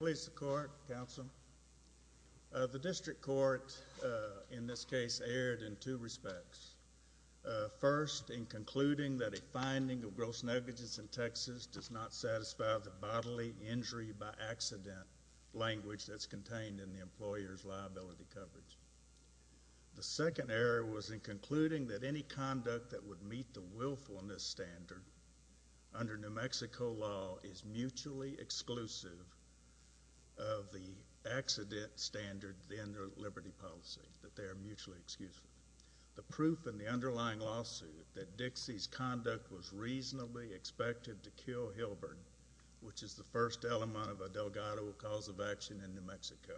The District Court, in this case, erred in two respects. First, in concluding that a finding of gross negligence in Texas does not satisfy the bodily injury by accident language that's contained in the employer's liability coverage. The second error was in concluding that any conduct that would meet the willfulness standard under New Mexico law is mutually exclusive of the accident standard in their liberty policy, that they are mutually exclusive. The proof in the underlying lawsuit that Dixie's conduct was reasonably expected to kill Hilbert, which is the first element of a Delgado cause of action in New Mexico,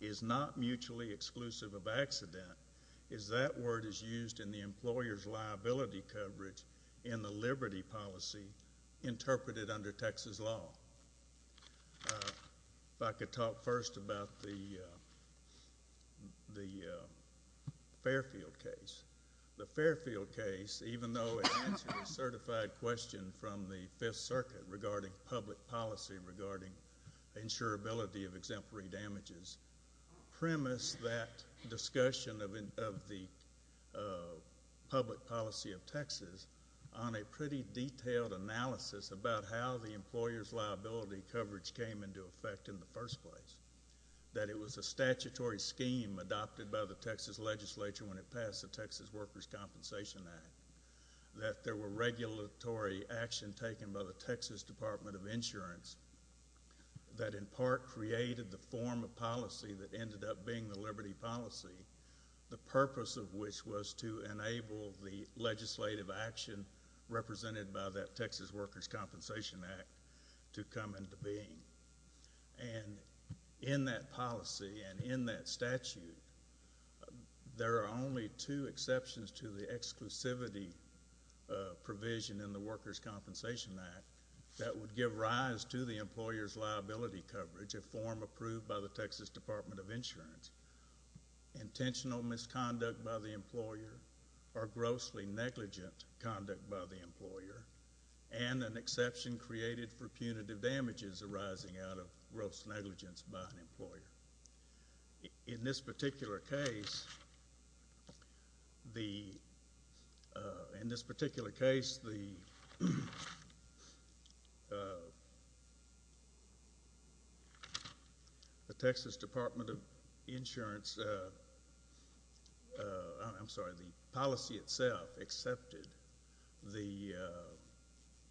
is not mutually exclusive of accident, as that word is used in the employer's liability coverage in the liberty policy interpreted under Texas law. If I could talk first about the Fairfield case. The Fairfield case, even though it answered a certified question from the Fifth Circuit regarding public policy regarding insurability of exemplary damages, premised that discussion of the public policy of Texas on a pretty detailed analysis about how the employer's liability coverage came into effect in the first place, that it was a statutory scheme adopted by the Texas legislature when it passed the Texas Workers' Compensation Act, that there were regulatory actions taken by the Texas Department of Insurance that in part created the form of policy that ended up being the liberty policy, the purpose of which was to enable the legislative action represented by that Texas Workers' Compensation Act to come into being. And in that policy and in that statute, there are only two exceptions to the exclusivity provision in the Workers' Compensation Act that would give rise to the employer's liability coverage, a form approved by the Texas Department of Insurance, intentional misconduct by the employer or grossly negligent conduct by the employer, and an exception created for punitive damages arising out of gross negligence by an employer. In this particular case, the, in this particular case, the Texas Department of Insurance, I'm sorry, the policy itself accepted the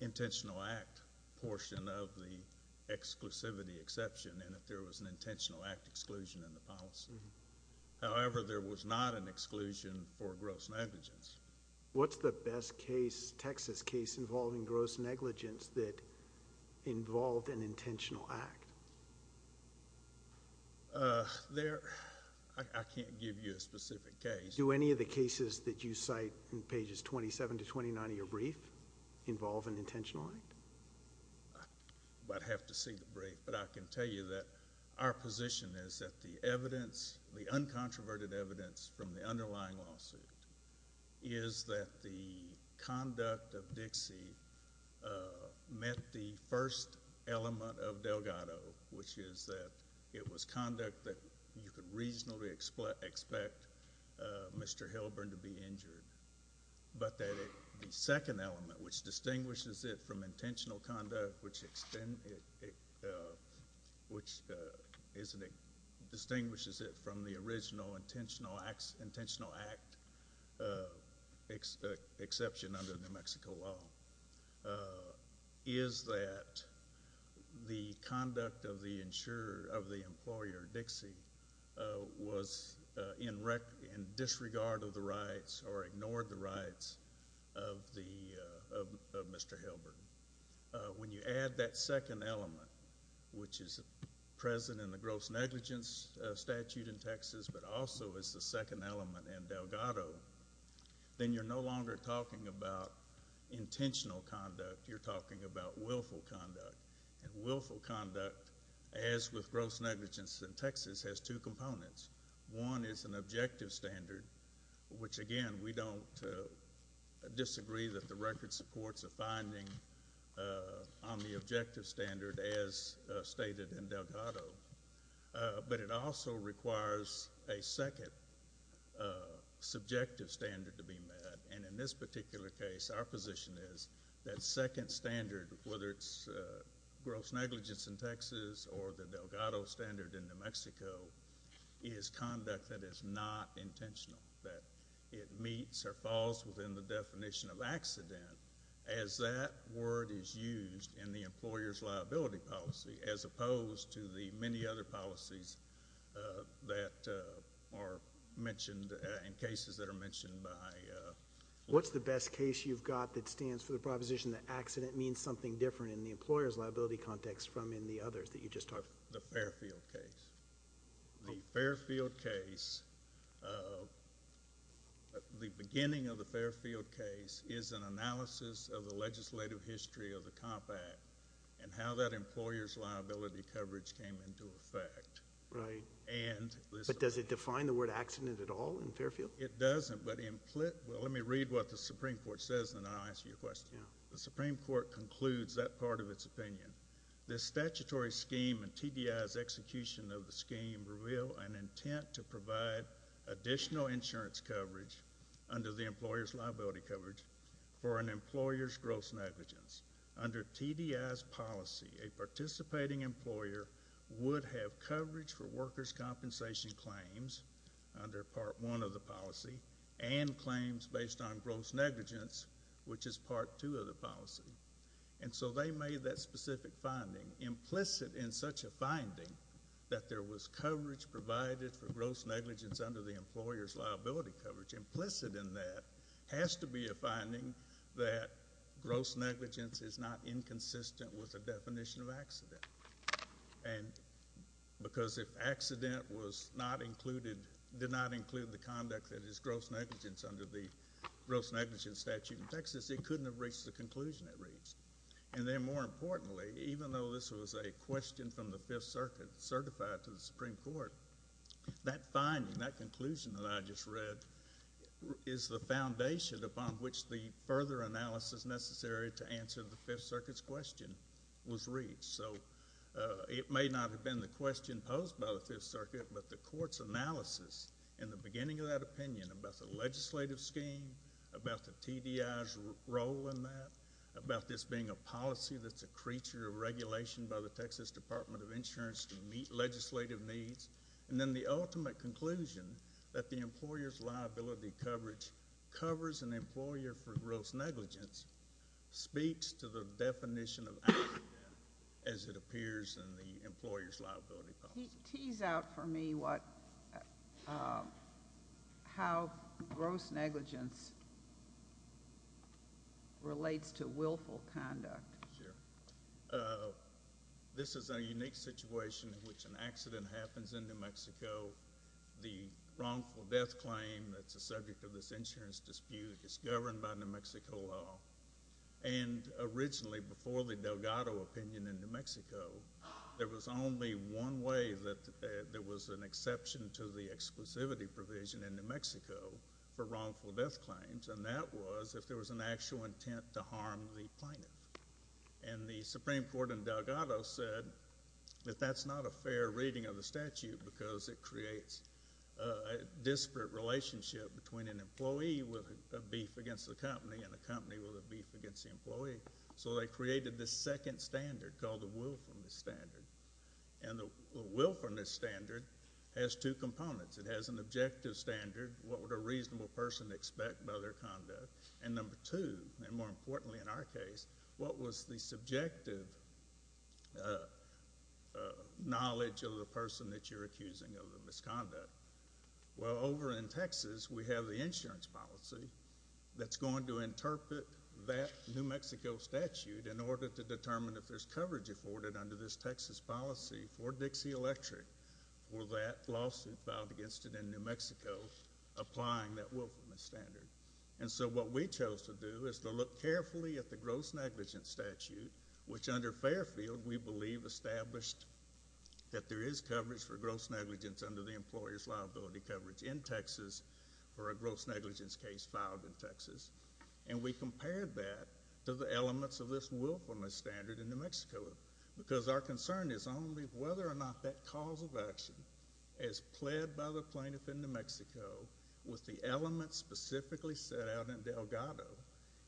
intentional act portion of the exclusivity exception, and that there was an intentional act exclusion in the policy. However, there was not an exclusion for gross negligence. What's the best case, Texas case, involving gross negligence that involved an intentional act? There, I can't give you a specific case. Do any of the cases that you cite in pages 27 to 29 of your brief involve an intentional act? I'd have to see the brief, but I can tell you that our position is that the evidence, the uncontroverted evidence from the underlying lawsuit is that the conduct of Dixie met the first element of Delgado, which is that it was conduct that you could reasonably expect Mr. Hilburn to be injured, but that the second element, which distinguishes it from intentional conduct, which distinguishes it from the original intentional act exception under New Mexico law, is that the conduct of the insurer, of the employer, Dixie, was in disregard of the rights or ignoring the rights of Mr. Hilburn. When you add that second element, which is present in the gross negligence statute in Texas, but also is the second element in Delgado, then you're no longer talking about intentional conduct. You're talking about willful conduct, and willful conduct, as with gross negligence in Texas, has two components. One is an objective standard, which again, we don't disagree that the record supports a finding on the objective standard as stated in Delgado, but it also requires a second subjective standard to be met, and in this particular case, our position is that second standard, whether it's gross negligence in Texas or the Delgado standard in New Mexico, is conduct that is not intentional, that it meets or falls within the definition of accident, as that word is used in the employer's liability policy, as opposed to the many other policies that are mentioned in cases that are mentioned by— What's the best case you've got that stands for the proposition that accident means something different in the employer's liability context from in the others that you just talked about? The Fairfield case. The Fairfield case, the beginning of the Fairfield case is an analysis of the legislative history of the Comp Act, and how that employer's liability coverage came into effect, and— Does it define the word accident at all in Fairfield? It doesn't, but in—well, let me read what the Supreme Court says, and then I'll answer your question. The Supreme Court concludes that part of its opinion. The statutory scheme and TDI's execution of the scheme reveal an intent to provide additional insurance coverage under the employer's liability coverage for an employer's gross negligence. Under TDI's policy, a participating employer would have coverage for workers' compensation claims under Part 1 of the policy, and claims based on gross negligence, which is Part 2 of the policy. And so they made that specific finding implicit in such a finding that there was coverage provided for gross negligence under the employer's liability coverage. Implicit in that has to be a finding that gross negligence is not inconsistent with the definition of gross negligence. If it did not include the conduct that is gross negligence under the gross negligence statute in Texas, it couldn't have reached the conclusion it reached. And then, more importantly, even though this was a question from the Fifth Circuit certified to the Supreme Court, that finding, that conclusion that I just read, is the foundation upon which the further analysis necessary to answer the Fifth Circuit's question was reached. So it may not have been the question posed by the Fifth Circuit, but the Court's analysis in the beginning of that opinion about the legislative scheme, about the TDI's role in that, about this being a policy that's a creature of regulation by the Texas Department of Insurance to meet legislative needs, and then the ultimate conclusion that the employer's liability coverage covers an employer for gross negligence, speaks to the definition of active debt, as it appears in the employer's liability policy. Tease out for me what—how gross negligence relates to willful conduct. Sure. This is a unique situation in which an accident happens in New Mexico. The wrongful death claim that's a subject of this insurance dispute is governed by New Mexico law. And there was only one way that there was an exception to the exclusivity provision in New Mexico for wrongful death claims, and that was if there was an actual intent to harm the plaintiff. And the Supreme Court in Delgado said that that's not a fair reading of the statute because it creates a disparate relationship between an employee with a beef against the company and a company with a beef against the employee. So they created this second standard called the willfulness standard. And the willfulness standard has two components. It has an objective standard, what would a reasonable person expect by their conduct, and number two, and more importantly in our case, what was the subjective knowledge of the person that you're accusing of the misconduct. Well, over in Texas, we have the insurance policy that's going to interpret that New Mexico will have coverage afforded under this Texas policy for Dixie Electric for that lawsuit filed against it in New Mexico, applying that willfulness standard. And so what we chose to do is to look carefully at the gross negligence statute, which under Fairfield we believe established that there is coverage for gross negligence under the employer's liability coverage in Texas for a gross negligence case filed in Texas. And we compared that to the elements of this willfulness standard in New Mexico, because our concern is only whether or not that cause of action, as pled by the plaintiff in New Mexico with the elements specifically set out in Delgado,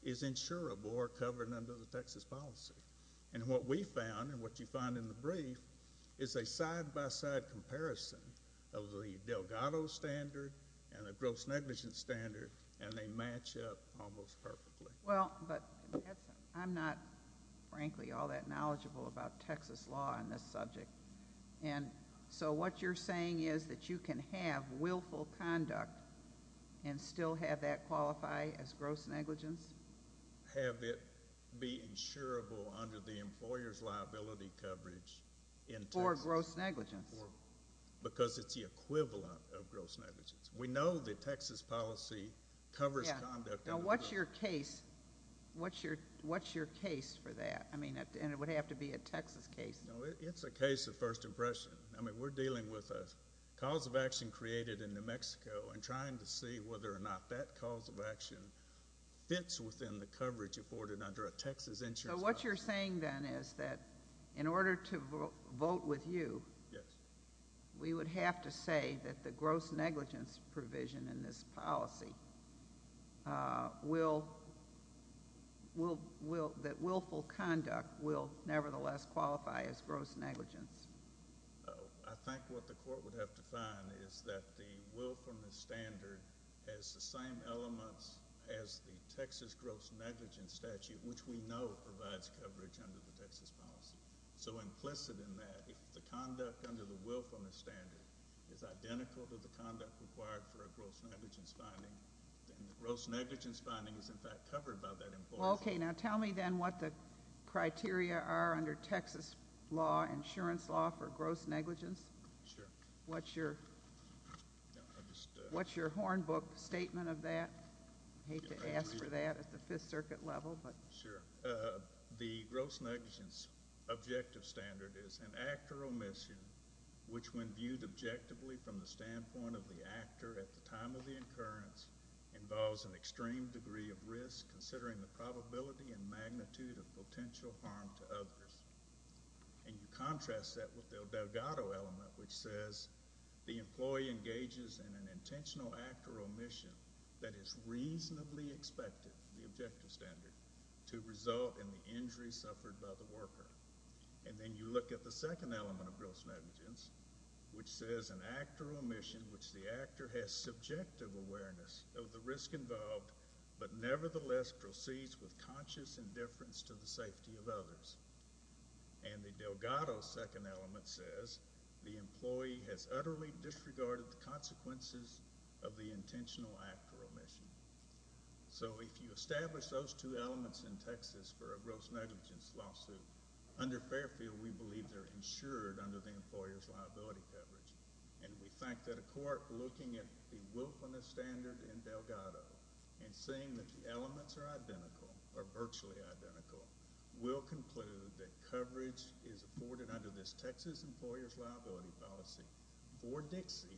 is insurable or covered under the Texas policy. And what we found and what you find in the brief is a side-by-side comparison of the Delgado standard and the gross negligence standard, and they match up almost perfectly. Well, but I'm not, frankly, all that knowledgeable about Texas law on this subject. And so what you're saying is that you can have willful conduct and still have that qualify as gross negligence? Have it be insurable under the employer's liability coverage in Texas. For gross negligence. Because it's the equivalent of gross negligence. We know the Texas policy covers conduct under the employer's liability coverage. What's your case for that? I mean, and it would have to be a Texas case. No, it's a case of first impression. I mean, we're dealing with a cause of action created in New Mexico and trying to see whether or not that cause of action fits within the coverage afforded under a Texas insurance policy. So what you're saying, then, is that in order to vote with you, we would have to say that the gross negligence provision in this policy will, that willful conduct will nevertheless qualify as gross negligence? I think what the court would have to find is that the willfulness standard has the same elements as the Texas gross negligence statute, which we know provides coverage under the Texas policy. So implicit in that, if the conduct under the willfulness standard is identical to the conduct required for a gross negligence finding, then the gross negligence finding is, in fact, covered by that employer's law. Okay. Now, tell me, then, what the criteria are under Texas law, insurance law, for gross negligence. Sure. What's your, what's your hornbook statement of that? I hate to ask for that at the Fifth Circuit level, but. Sure. The gross negligence objective standard is an act or omission which, when viewed objectively from the standpoint of the actor at the time of the occurrence, involves an extreme degree of risk, considering the probability and magnitude of potential harm to others. And you contrast that with the Delgado element, which says the employee engages in an intentional act or omission that is reasonably expected, the objective standard, to result in the injury suffered by the worker. And then you look at the second element of gross negligence, which says an act or omission which the actor has subjective awareness of the risk involved, but nevertheless proceeds with conscious indifference to the safety of others. And the Delgado second element says the employee has utterly disregarded the consequences of the intentional act or omission. So if you establish those two elements in Texas for a gross negligence lawsuit, under the employer's liability coverage, and we think that a court looking at the Wilfmanist standard in Delgado and seeing that the elements are identical, or virtually identical, will conclude that coverage is afforded under this Texas employer's liability policy for Dixie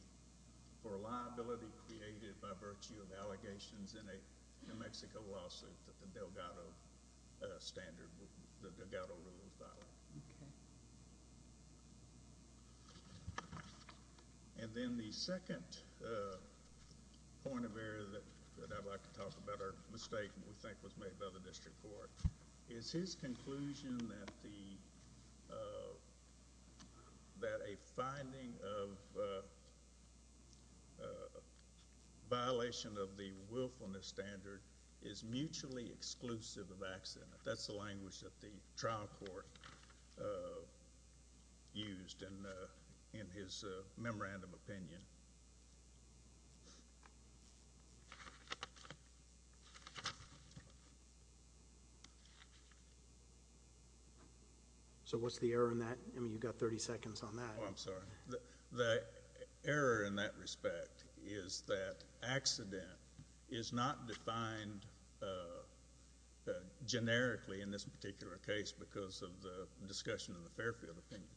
for a liability created by virtue of allegations in a New Mexico lawsuit that the Delgado rule was violated. And then the second point of error that I'd like to talk about, or mistake that we think was made by the district court, is his conclusion that a finding of violation of the Wilfmanist standard is mutually exclusive of accident. That's the language that the trial court used in his memorandum opinion. So what's the error in that? I mean, you've got 30 seconds on that. Oh, I'm sorry. The error in that respect is that accident is not defined generically in this particular case because of the discussion of the Fairfield opinion.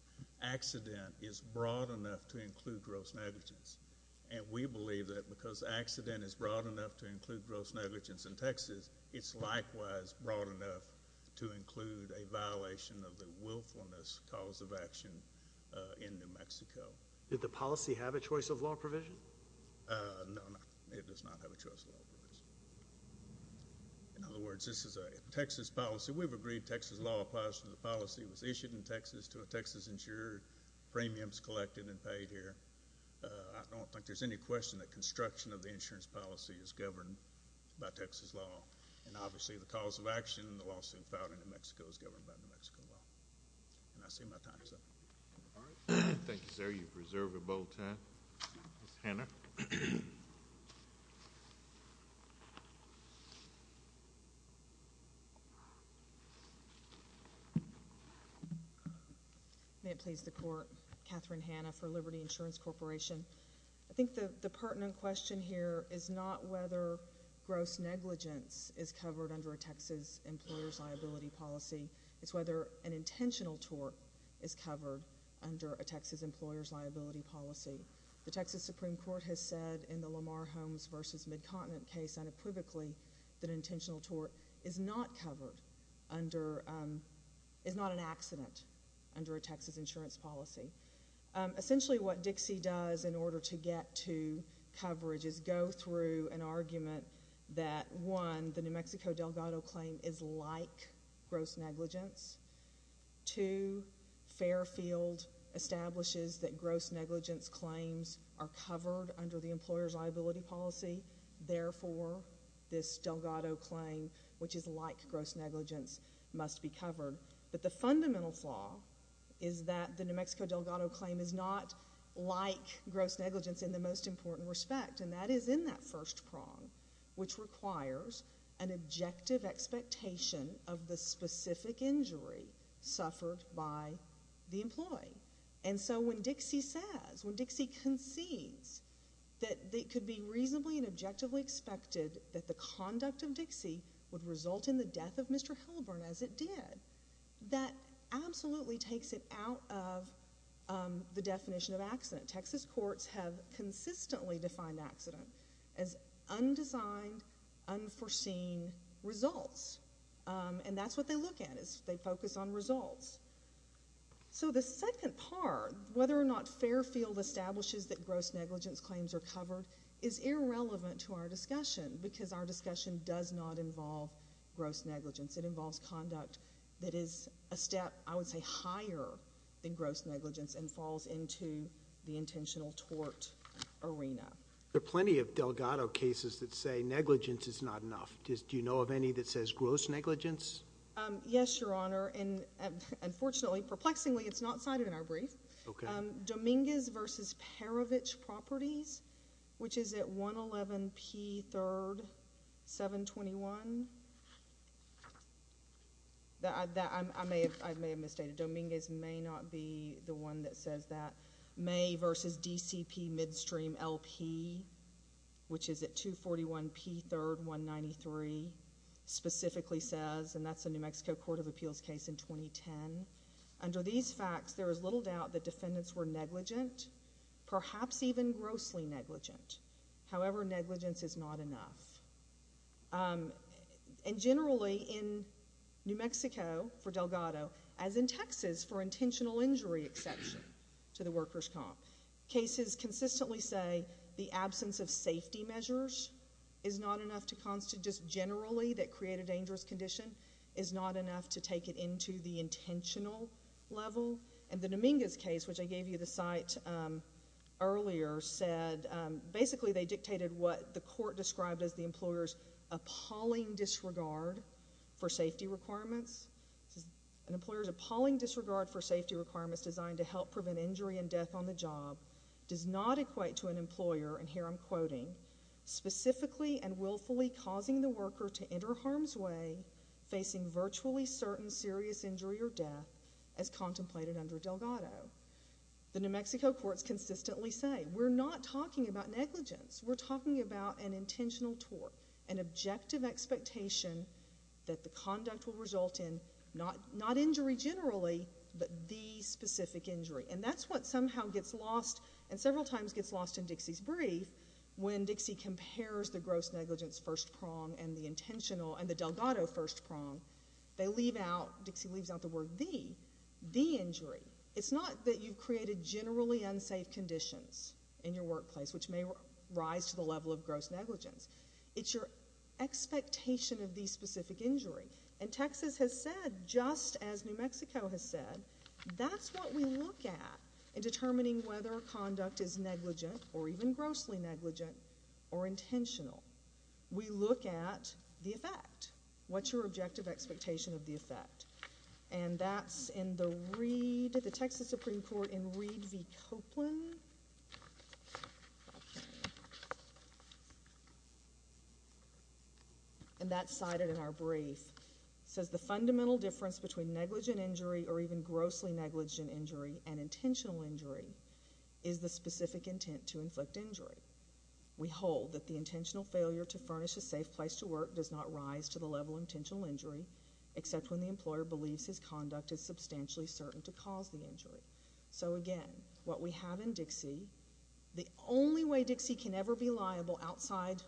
Accident is broad enough to include gross negligence. And we believe that because accident is broad enough to include gross negligence in Texas, it's likewise broad enough to include a violation of the Wilfmanist cause of action in New Mexico. Did the policy have a choice of law provision? No, it does not have a choice of law provision. In other words, this is a Texas policy. We've agreed Texas law applies to the policy. It was issued in Texas to a Texas insurer. Premiums collected and paid here. I don't think there's any question that construction of the insurance policy is governed by Texas law. And obviously, the cause of action in the lawsuit filed in New Mexico is governed by New Mexico law. And I see my time is up. All right. Thank you, sir. You've reserved a bold time. Ms. Hanna. May it please the Court. Katherine Hanna for Liberty Insurance Corporation. I think the pertinent question here is not whether gross negligence is covered under a Texas employer's liability policy. It's whether an intentional tort is covered under a Texas employer's liability policy. The Texas Supreme Court has said in the Lamar Holmes v. Midcontinent case unequivocally that intentional tort is not covered under—is not an accident under a Texas insurance policy. Essentially, what Dixie does in order to get to coverage is go through an argument that, one, the New Mexico Delgado claim is like gross negligence. Two, Fairfield establishes that gross negligence claims are covered under the employer's liability policy. Therefore, this Delgado claim, which is like gross negligence, must be covered. But the fundamental flaw is that the New Mexico Delgado claim is not like gross negligence in the most important respect, and that is in that first prong, which requires an objective expectation of the specific injury suffered by the employee. And so when Dixie says, when Dixie concedes that it could be reasonably and objectively expected that the conduct of Dixie would result in the death of Mr. Helburn, as it did, that absolutely takes it out of the definition of accident. Texas courts have consistently defined accident as undesigned, unforeseen results. And that's what they look at, is they focus on results. So the second part, whether or not Fairfield establishes that gross negligence claims are covered, is irrelevant to our discussion, because our discussion does not involve gross negligence. It involves conduct that is a step, I would say, higher than gross negligence and falls into the intentional tort arena. There are plenty of Delgado cases that say negligence is not enough. Do you know of any that says gross negligence? Yes, Your Honor. And unfortunately, perplexingly, it's not cited in our brief. Okay. Dominguez v. Perovich Properties, which is at 111 P. 3rd, 721. I may have misstated. Dominguez may not be the one that says that. May v. DCP Midstream LP, which is at 241 P. 3rd, 193, specifically says, and that's a New Mexico Court of Appeals case in 2010. Under these facts, there is little doubt that defendants were negligent, perhaps even grossly negligent. However, negligence is not enough. And generally, in New Mexico, for Delgado, as in Texas, for intentional injury exception to the workers' comp, cases consistently say the absence of safety measures is not enough to constitute, just generally, that create a dangerous condition, is not enough to take it into the intentional level. And the Dominguez case, which I gave you the cite earlier, said basically they dictated what the court described as the employer's appalling disregard for safety requirements. An employer's appalling disregard for safety requirements designed to help prevent injury and death on the job does not equate to an employer, and here I'm quoting, specifically and willfully causing the worker to enter harm's way, facing virtually certain serious injury or death, as contemplated under Delgado. The New Mexico courts consistently say, we're not talking about negligence. We're talking about an intentional tort, an objective expectation that the conduct will result in not injury generally, but the specific injury. And that's what somehow gets lost and several times gets lost in Dixie's brief when Dixie compares the gross negligence first prong and the intentional and the Delgado first prong. They leave out, Dixie leaves out the word the, the injury. It's not that you've created generally unsafe conditions in your workplace which may rise to the level of gross negligence. It's your expectation of the specific injury. And Texas has said, just as New Mexico has said, that's what we look at in determining whether a conduct is negligent or even grossly negligent or intentional. We look at the effect. What's your objective expectation of the effect? And that's in the Reed, the Texas Supreme Court in Reed v. Copeland. And that's cited in our brief. It says the fundamental difference between negligent injury or even grossly negligent injury and intentional injury is the specific intent to inflict injury. We hold that the intentional failure to furnish a safe place to work does not rise to the level of intentional injury except when the employer believes his conduct is substantially certain to cause the injury. So again, what we have in Dixie, the only way Dixie can ever be liable outside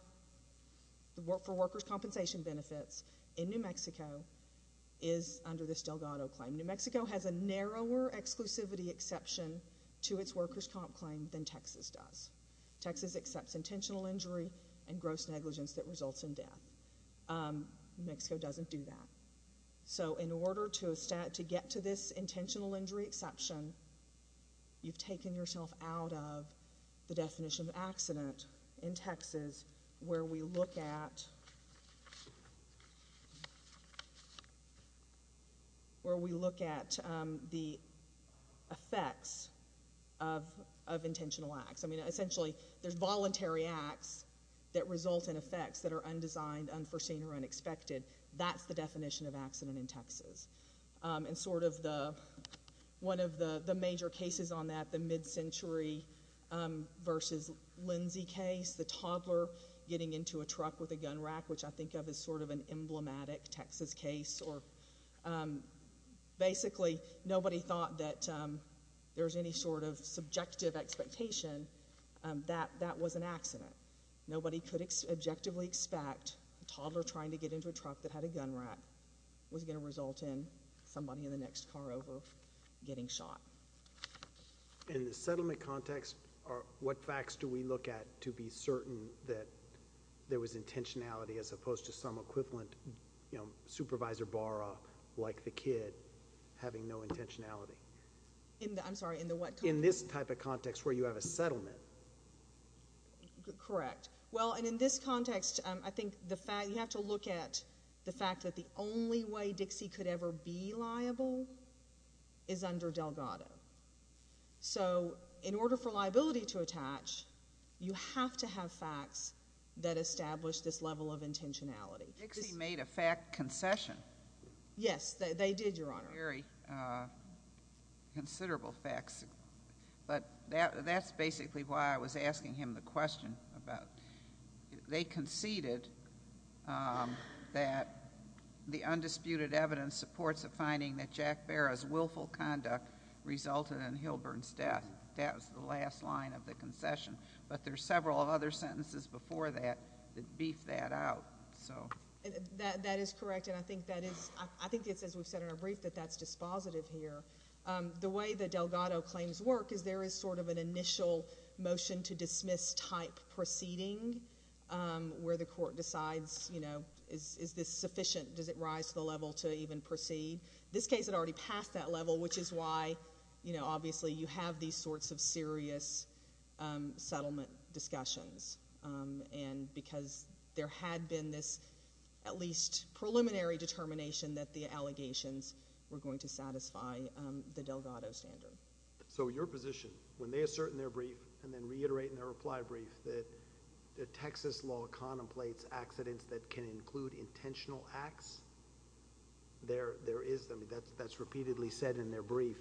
for workers' compensation benefits in New Mexico is under this Delgado claim. New Mexico has a narrower exclusivity exception to its workers' comp claim than Texas does. Texas accepts intentional injury and gross negligence that results in death. New Mexico doesn't do that. So in order to get to this intentional injury exception, you've taken yourself out of the definition of accident in Texas where we look at the effects of intentional acts. I mean, essentially, there's voluntary acts that result in effects that are undesigned, unforeseen, or unexpected. That's the definition of accident in Texas. And sort of one of the major cases on that, the mid-century v. Lindsey case, the toddler getting into a truck with a gun rack, which I think of as sort of an emblematic Texas case. Basically, nobody thought that there was any sort of subjective expectation that that was an accident. Nobody could objectively expect a toddler trying to get into a truck that had a gun rack was going to result in somebody in the next car over getting shot. In the settlement context, what facts do we look at to be certain that there was intentionality as opposed to some equivalent, you know, Supervisor Barra, like the kid, having no intentionality? In the, I'm sorry, in the what context? In this type of context where you have a settlement. Correct. Well, and in this context, I think the fact, you have to look at the fact that the only way Dixie could ever be liable is under Delgado. So in order for liability to attach, you have to have facts that establish this level of intentionality. Dixie made a fact concession. Yes, they did, Your Honor. Very considerable facts, but that's basically why I was asking him the question about, they conceded that the undisputed evidence supports the finding that Jack Barra's willful conduct resulted in Hilburn's death. That was the last line of the concession, but there's several other sentences before that that beef that out, so. That is correct, and I think that is, I think it's as we've said in our brief that that's dispositive here. The way that Delgado claims work is there is sort of an initial motion to dismiss type proceeding where the court decides, you know, is this sufficient? Does it rise to the level to even proceed? This case had already passed that level, which is why, you know, obviously you have these sorts of serious settlement discussions, and because there had been this at least preliminary determination that the allegations were going to satisfy the Delgado standard. So your position, when they assert in their brief and then reiterate in their reply brief that Texas law contemplates accidents that can include intentional acts, there is, that's repeatedly said in their brief,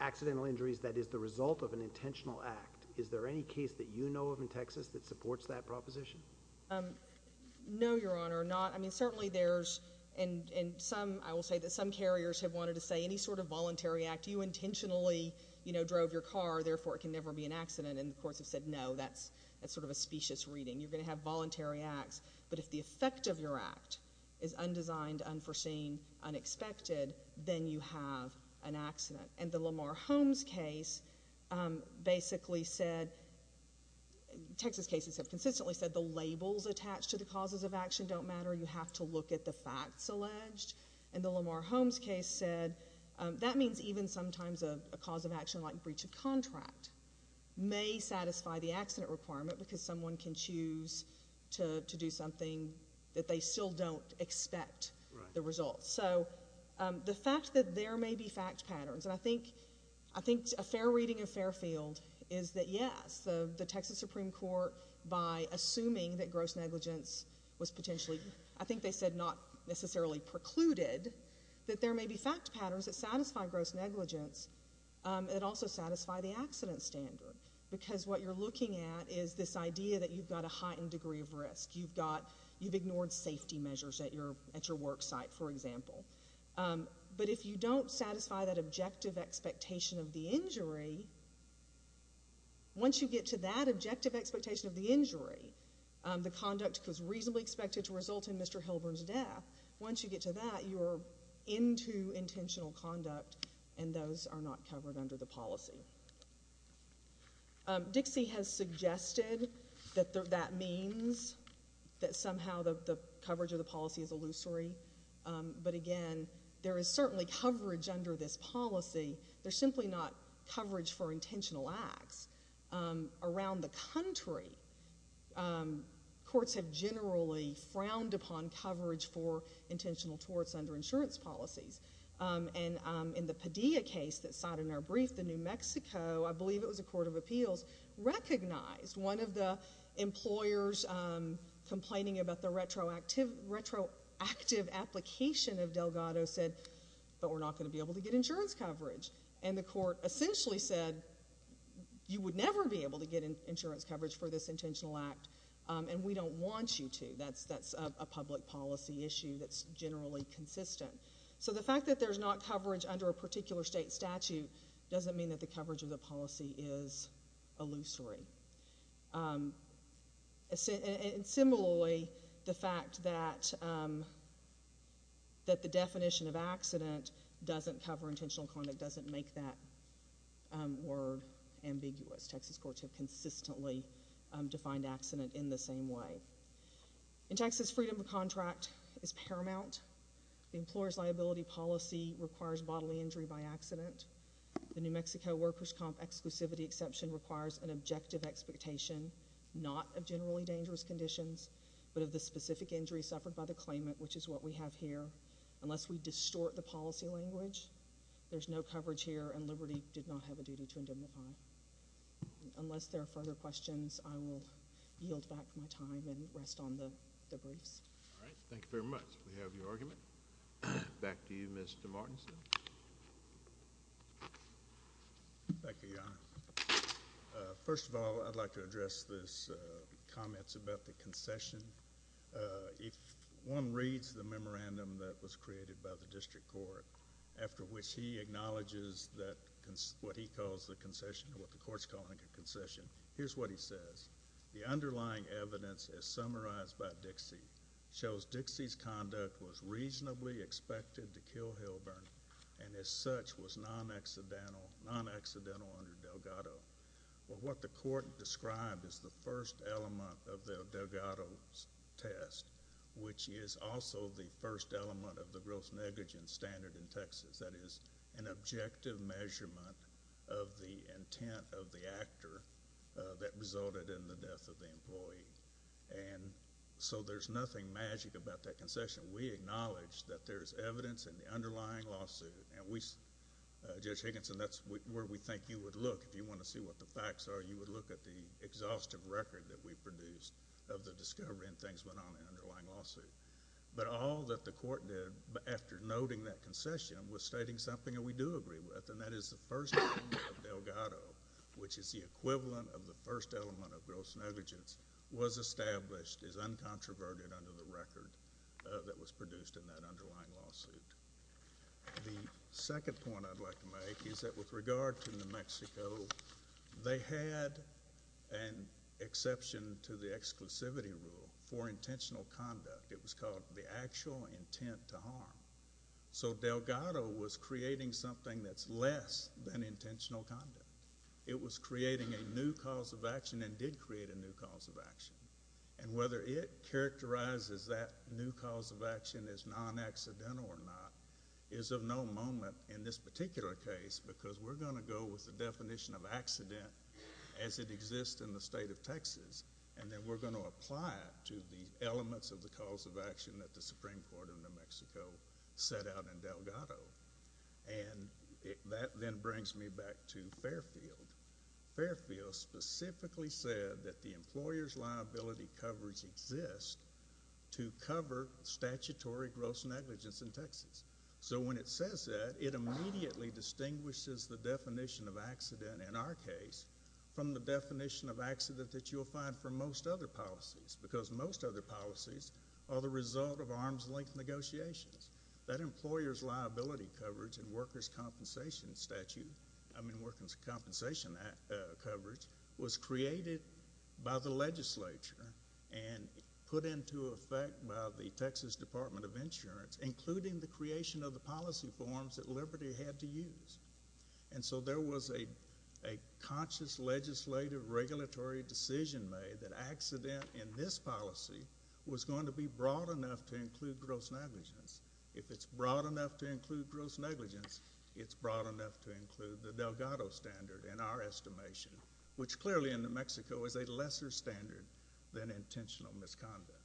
accidental injuries that is the result of an intentional act. Is there any case that you know of in Texas that supports that proposition? No, Your Honor, not. I mean, certainly there's, and some, I will say that some carriers have wanted to say any sort of voluntary act. You intentionally, you know, drove your car, therefore it can never be an accident, and the courts have said no, that's sort of a specious reading. You're going to have voluntary acts, but if the effect of your act is undesigned, unforeseen, unexpected, then you have an accident. And the Lamar Holmes case basically said, Texas cases have consistently said the labels attached to the causes of action don't matter, you have to look at the facts alleged, and the Lamar Holmes case said that means even sometimes a cause of action like breach of contract may satisfy the accident requirement because someone can choose to do something that they still don't expect the result. So, the fact that there may be fact patterns, and I think, I think a fair reading of Fairfield is that yes, the Texas Supreme Court, by assuming that gross negligence was potentially, I think they said not necessarily precluded, that there may be fact patterns that satisfy gross negligence that also satisfy the accident standard. Because what you're looking at is this idea that you've got a heightened degree of risk. You've got, you've ignored safety measures at your, at your work site, for example. But if you don't satisfy that objective expectation of the injury, once you get to that objective expectation of the injury, the conduct was reasonably expected to result in Mr. Hilburn's death. Once you get to that, you're into intentional conduct, and those are not covered under the policy. Dixie has suggested that that means that somehow the coverage of the policy is illusory. But again, there is certainly coverage under this policy. There's simply not coverage for intentional acts. Around the country, courts have generally frowned upon coverage for intentional torts under insurance policies. And in the Padilla case that's cited in our brief, the New Mexico, I believe it was a court of appeals, recognized one of the employers complaining about the retroactive application of Delgado said, but we're not going to be able to get insurance coverage. And the court essentially said, you would never be able to get insurance coverage for this intentional act, and we don't want you to. That's a public policy issue that's generally consistent. So the fact that there's not coverage under a particular state statute doesn't mean that the coverage of the policy is illusory. And similarly, the fact that the definition of accident doesn't cover intentional conduct doesn't make that word ambiguous. Texas courts have consistently defined accident in the statute. The employer's liability policy requires bodily injury by accident. The New Mexico workers' comp exclusivity exception requires an objective expectation, not of generally dangerous conditions, but of the specific injury suffered by the claimant, which is what we have here. Unless we distort the policy language, there's no coverage here, and Liberty did not have a duty to indemnify. Unless there are further questions, I will yield back my time. All right. Thank you very much. We have your argument. Back to you, Mr. Martinson. Thank you, Your Honor. First of all, I'd like to address this comment about the concession. If one reads the memorandum that was created by the district court, after which he acknowledges what he calls the concession, what the court's calling a concession, here's what he says. The underlying evidence, as summarized by Dixie, shows Dixie's conduct was reasonably expected to kill Hilburn and, as such, was non-accidental under Delgado. But what the court described as the first element of the Delgado test, which is also the first element of the gross negligence standard in Texas, that is, an objective measurement of the intent of the actor that resulted in the death of the employee. And so there's nothing magic about that concession. We acknowledge that there's evidence in the underlying lawsuit, and Judge Higginson, that's where we think you would look. If you want to see what the facts are, you would look at the exhaustive record that we've produced of the discovery and things went on in the underlying lawsuit. But all that the court did after noting that the Delgado test, which is the equivalent of the first element of gross negligence, was established as uncontroverted under the record that was produced in that underlying lawsuit. The second point I'd like to make is that, with regard to New Mexico, they had an exception to the exclusivity rule for intentional conduct. It was called the actual intent to harm. So it was creating a new cause of action and did create a new cause of action. And whether it characterizes that new cause of action as non-accidental or not is of no moment in this particular case, because we're going to go with the definition of accident as it exists in the state of Texas, and then we're going to apply it to the elements of the cause of action that the Supreme Court of New Mexico set out in Delgado. And that then brings me back to Fairfield. Fairfield specifically said that the employer's liability coverage exists to cover statutory gross negligence in Texas. So when it says that, it immediately distinguishes the definition of accident in our case from the definition of accident that you'll find for most other policies, because most other policies are the result of arm's-length negotiations. That employer's liability coverage and workers' compensation statute—I mean, workers' compensation coverage—was created by the legislature and put into effect by the Texas Department of Insurance, including the creation of the policy forms that Liberty had to use. And so there was a conscious legislative regulatory decision made that accident in this policy was going to be broad enough to include gross negligence. If it's broad enough to include gross negligence, it's broad enough to include the Delgado standard in our estimation, which clearly in New Mexico is a lesser standard than intentional misconduct.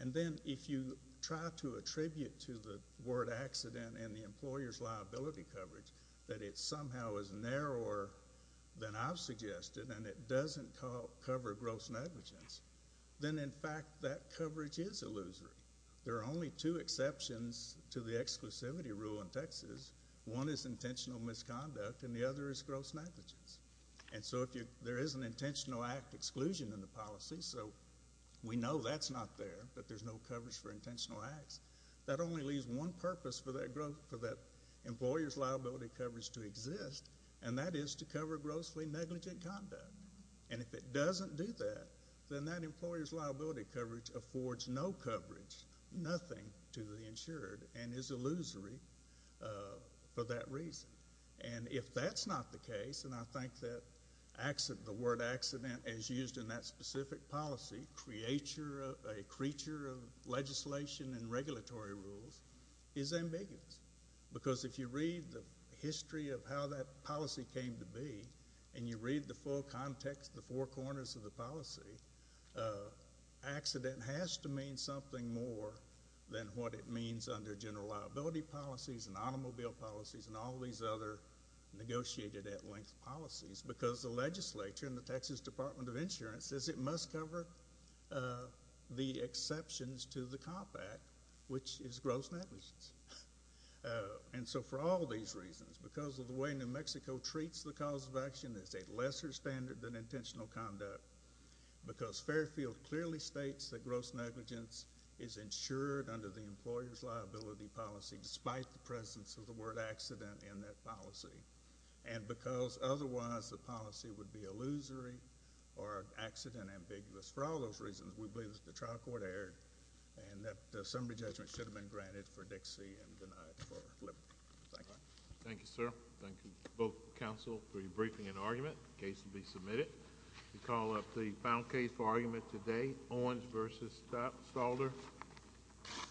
And then if you try to attribute to the word accident and the employer's liability coverage that it somehow is narrower than I've suggested and it doesn't cover gross negligence, then in fact that coverage is illusory. There are only two exceptions to the exclusivity rule in Texas. One is intentional misconduct and the other is gross negligence. And so if there is an intentional act exclusion in the policy—so we know that's not there, but there's no coverage for intentional acts—that only leaves one purpose for that employer's liability coverage to exist, and that is to cover grossly negligent conduct. And if it doesn't do that, then that employer's liability coverage affords no coverage, nothing, to the insured and is illusory for that reason. And if that's not the case, and I think that the word accident is used in that specific policy, a creature of legislation and regulatory rules, is ambiguous. Because if you read the history of how that policy came to be and you read the full context, the four corners of the policy, accident has to mean something more than what it means under general liability policies and automobile policies and all these other negotiated at-length policies because the legislature and the Texas Department of Insurance says it must cover the exceptions to the Comp Act, which is gross negligence. And so for all these reasons, because of the way New Mexico treats the cause of action as a lesser standard than intentional conduct, because Fairfield clearly states that gross negligence is insured under the employer's liability policy despite the presence of the word accident in that policy, and because otherwise the policy would be illusory or accident-ambiguous. For all those reasons, we believe that the trial court erred and that summary judgment should have been granted for Dixie and denied for Lippert. Thank you. Thank you, sir. Thank you, both counsel, for your briefing and argument. The case will be submitted. We call up the final case for argument today, Owens v. Stalder.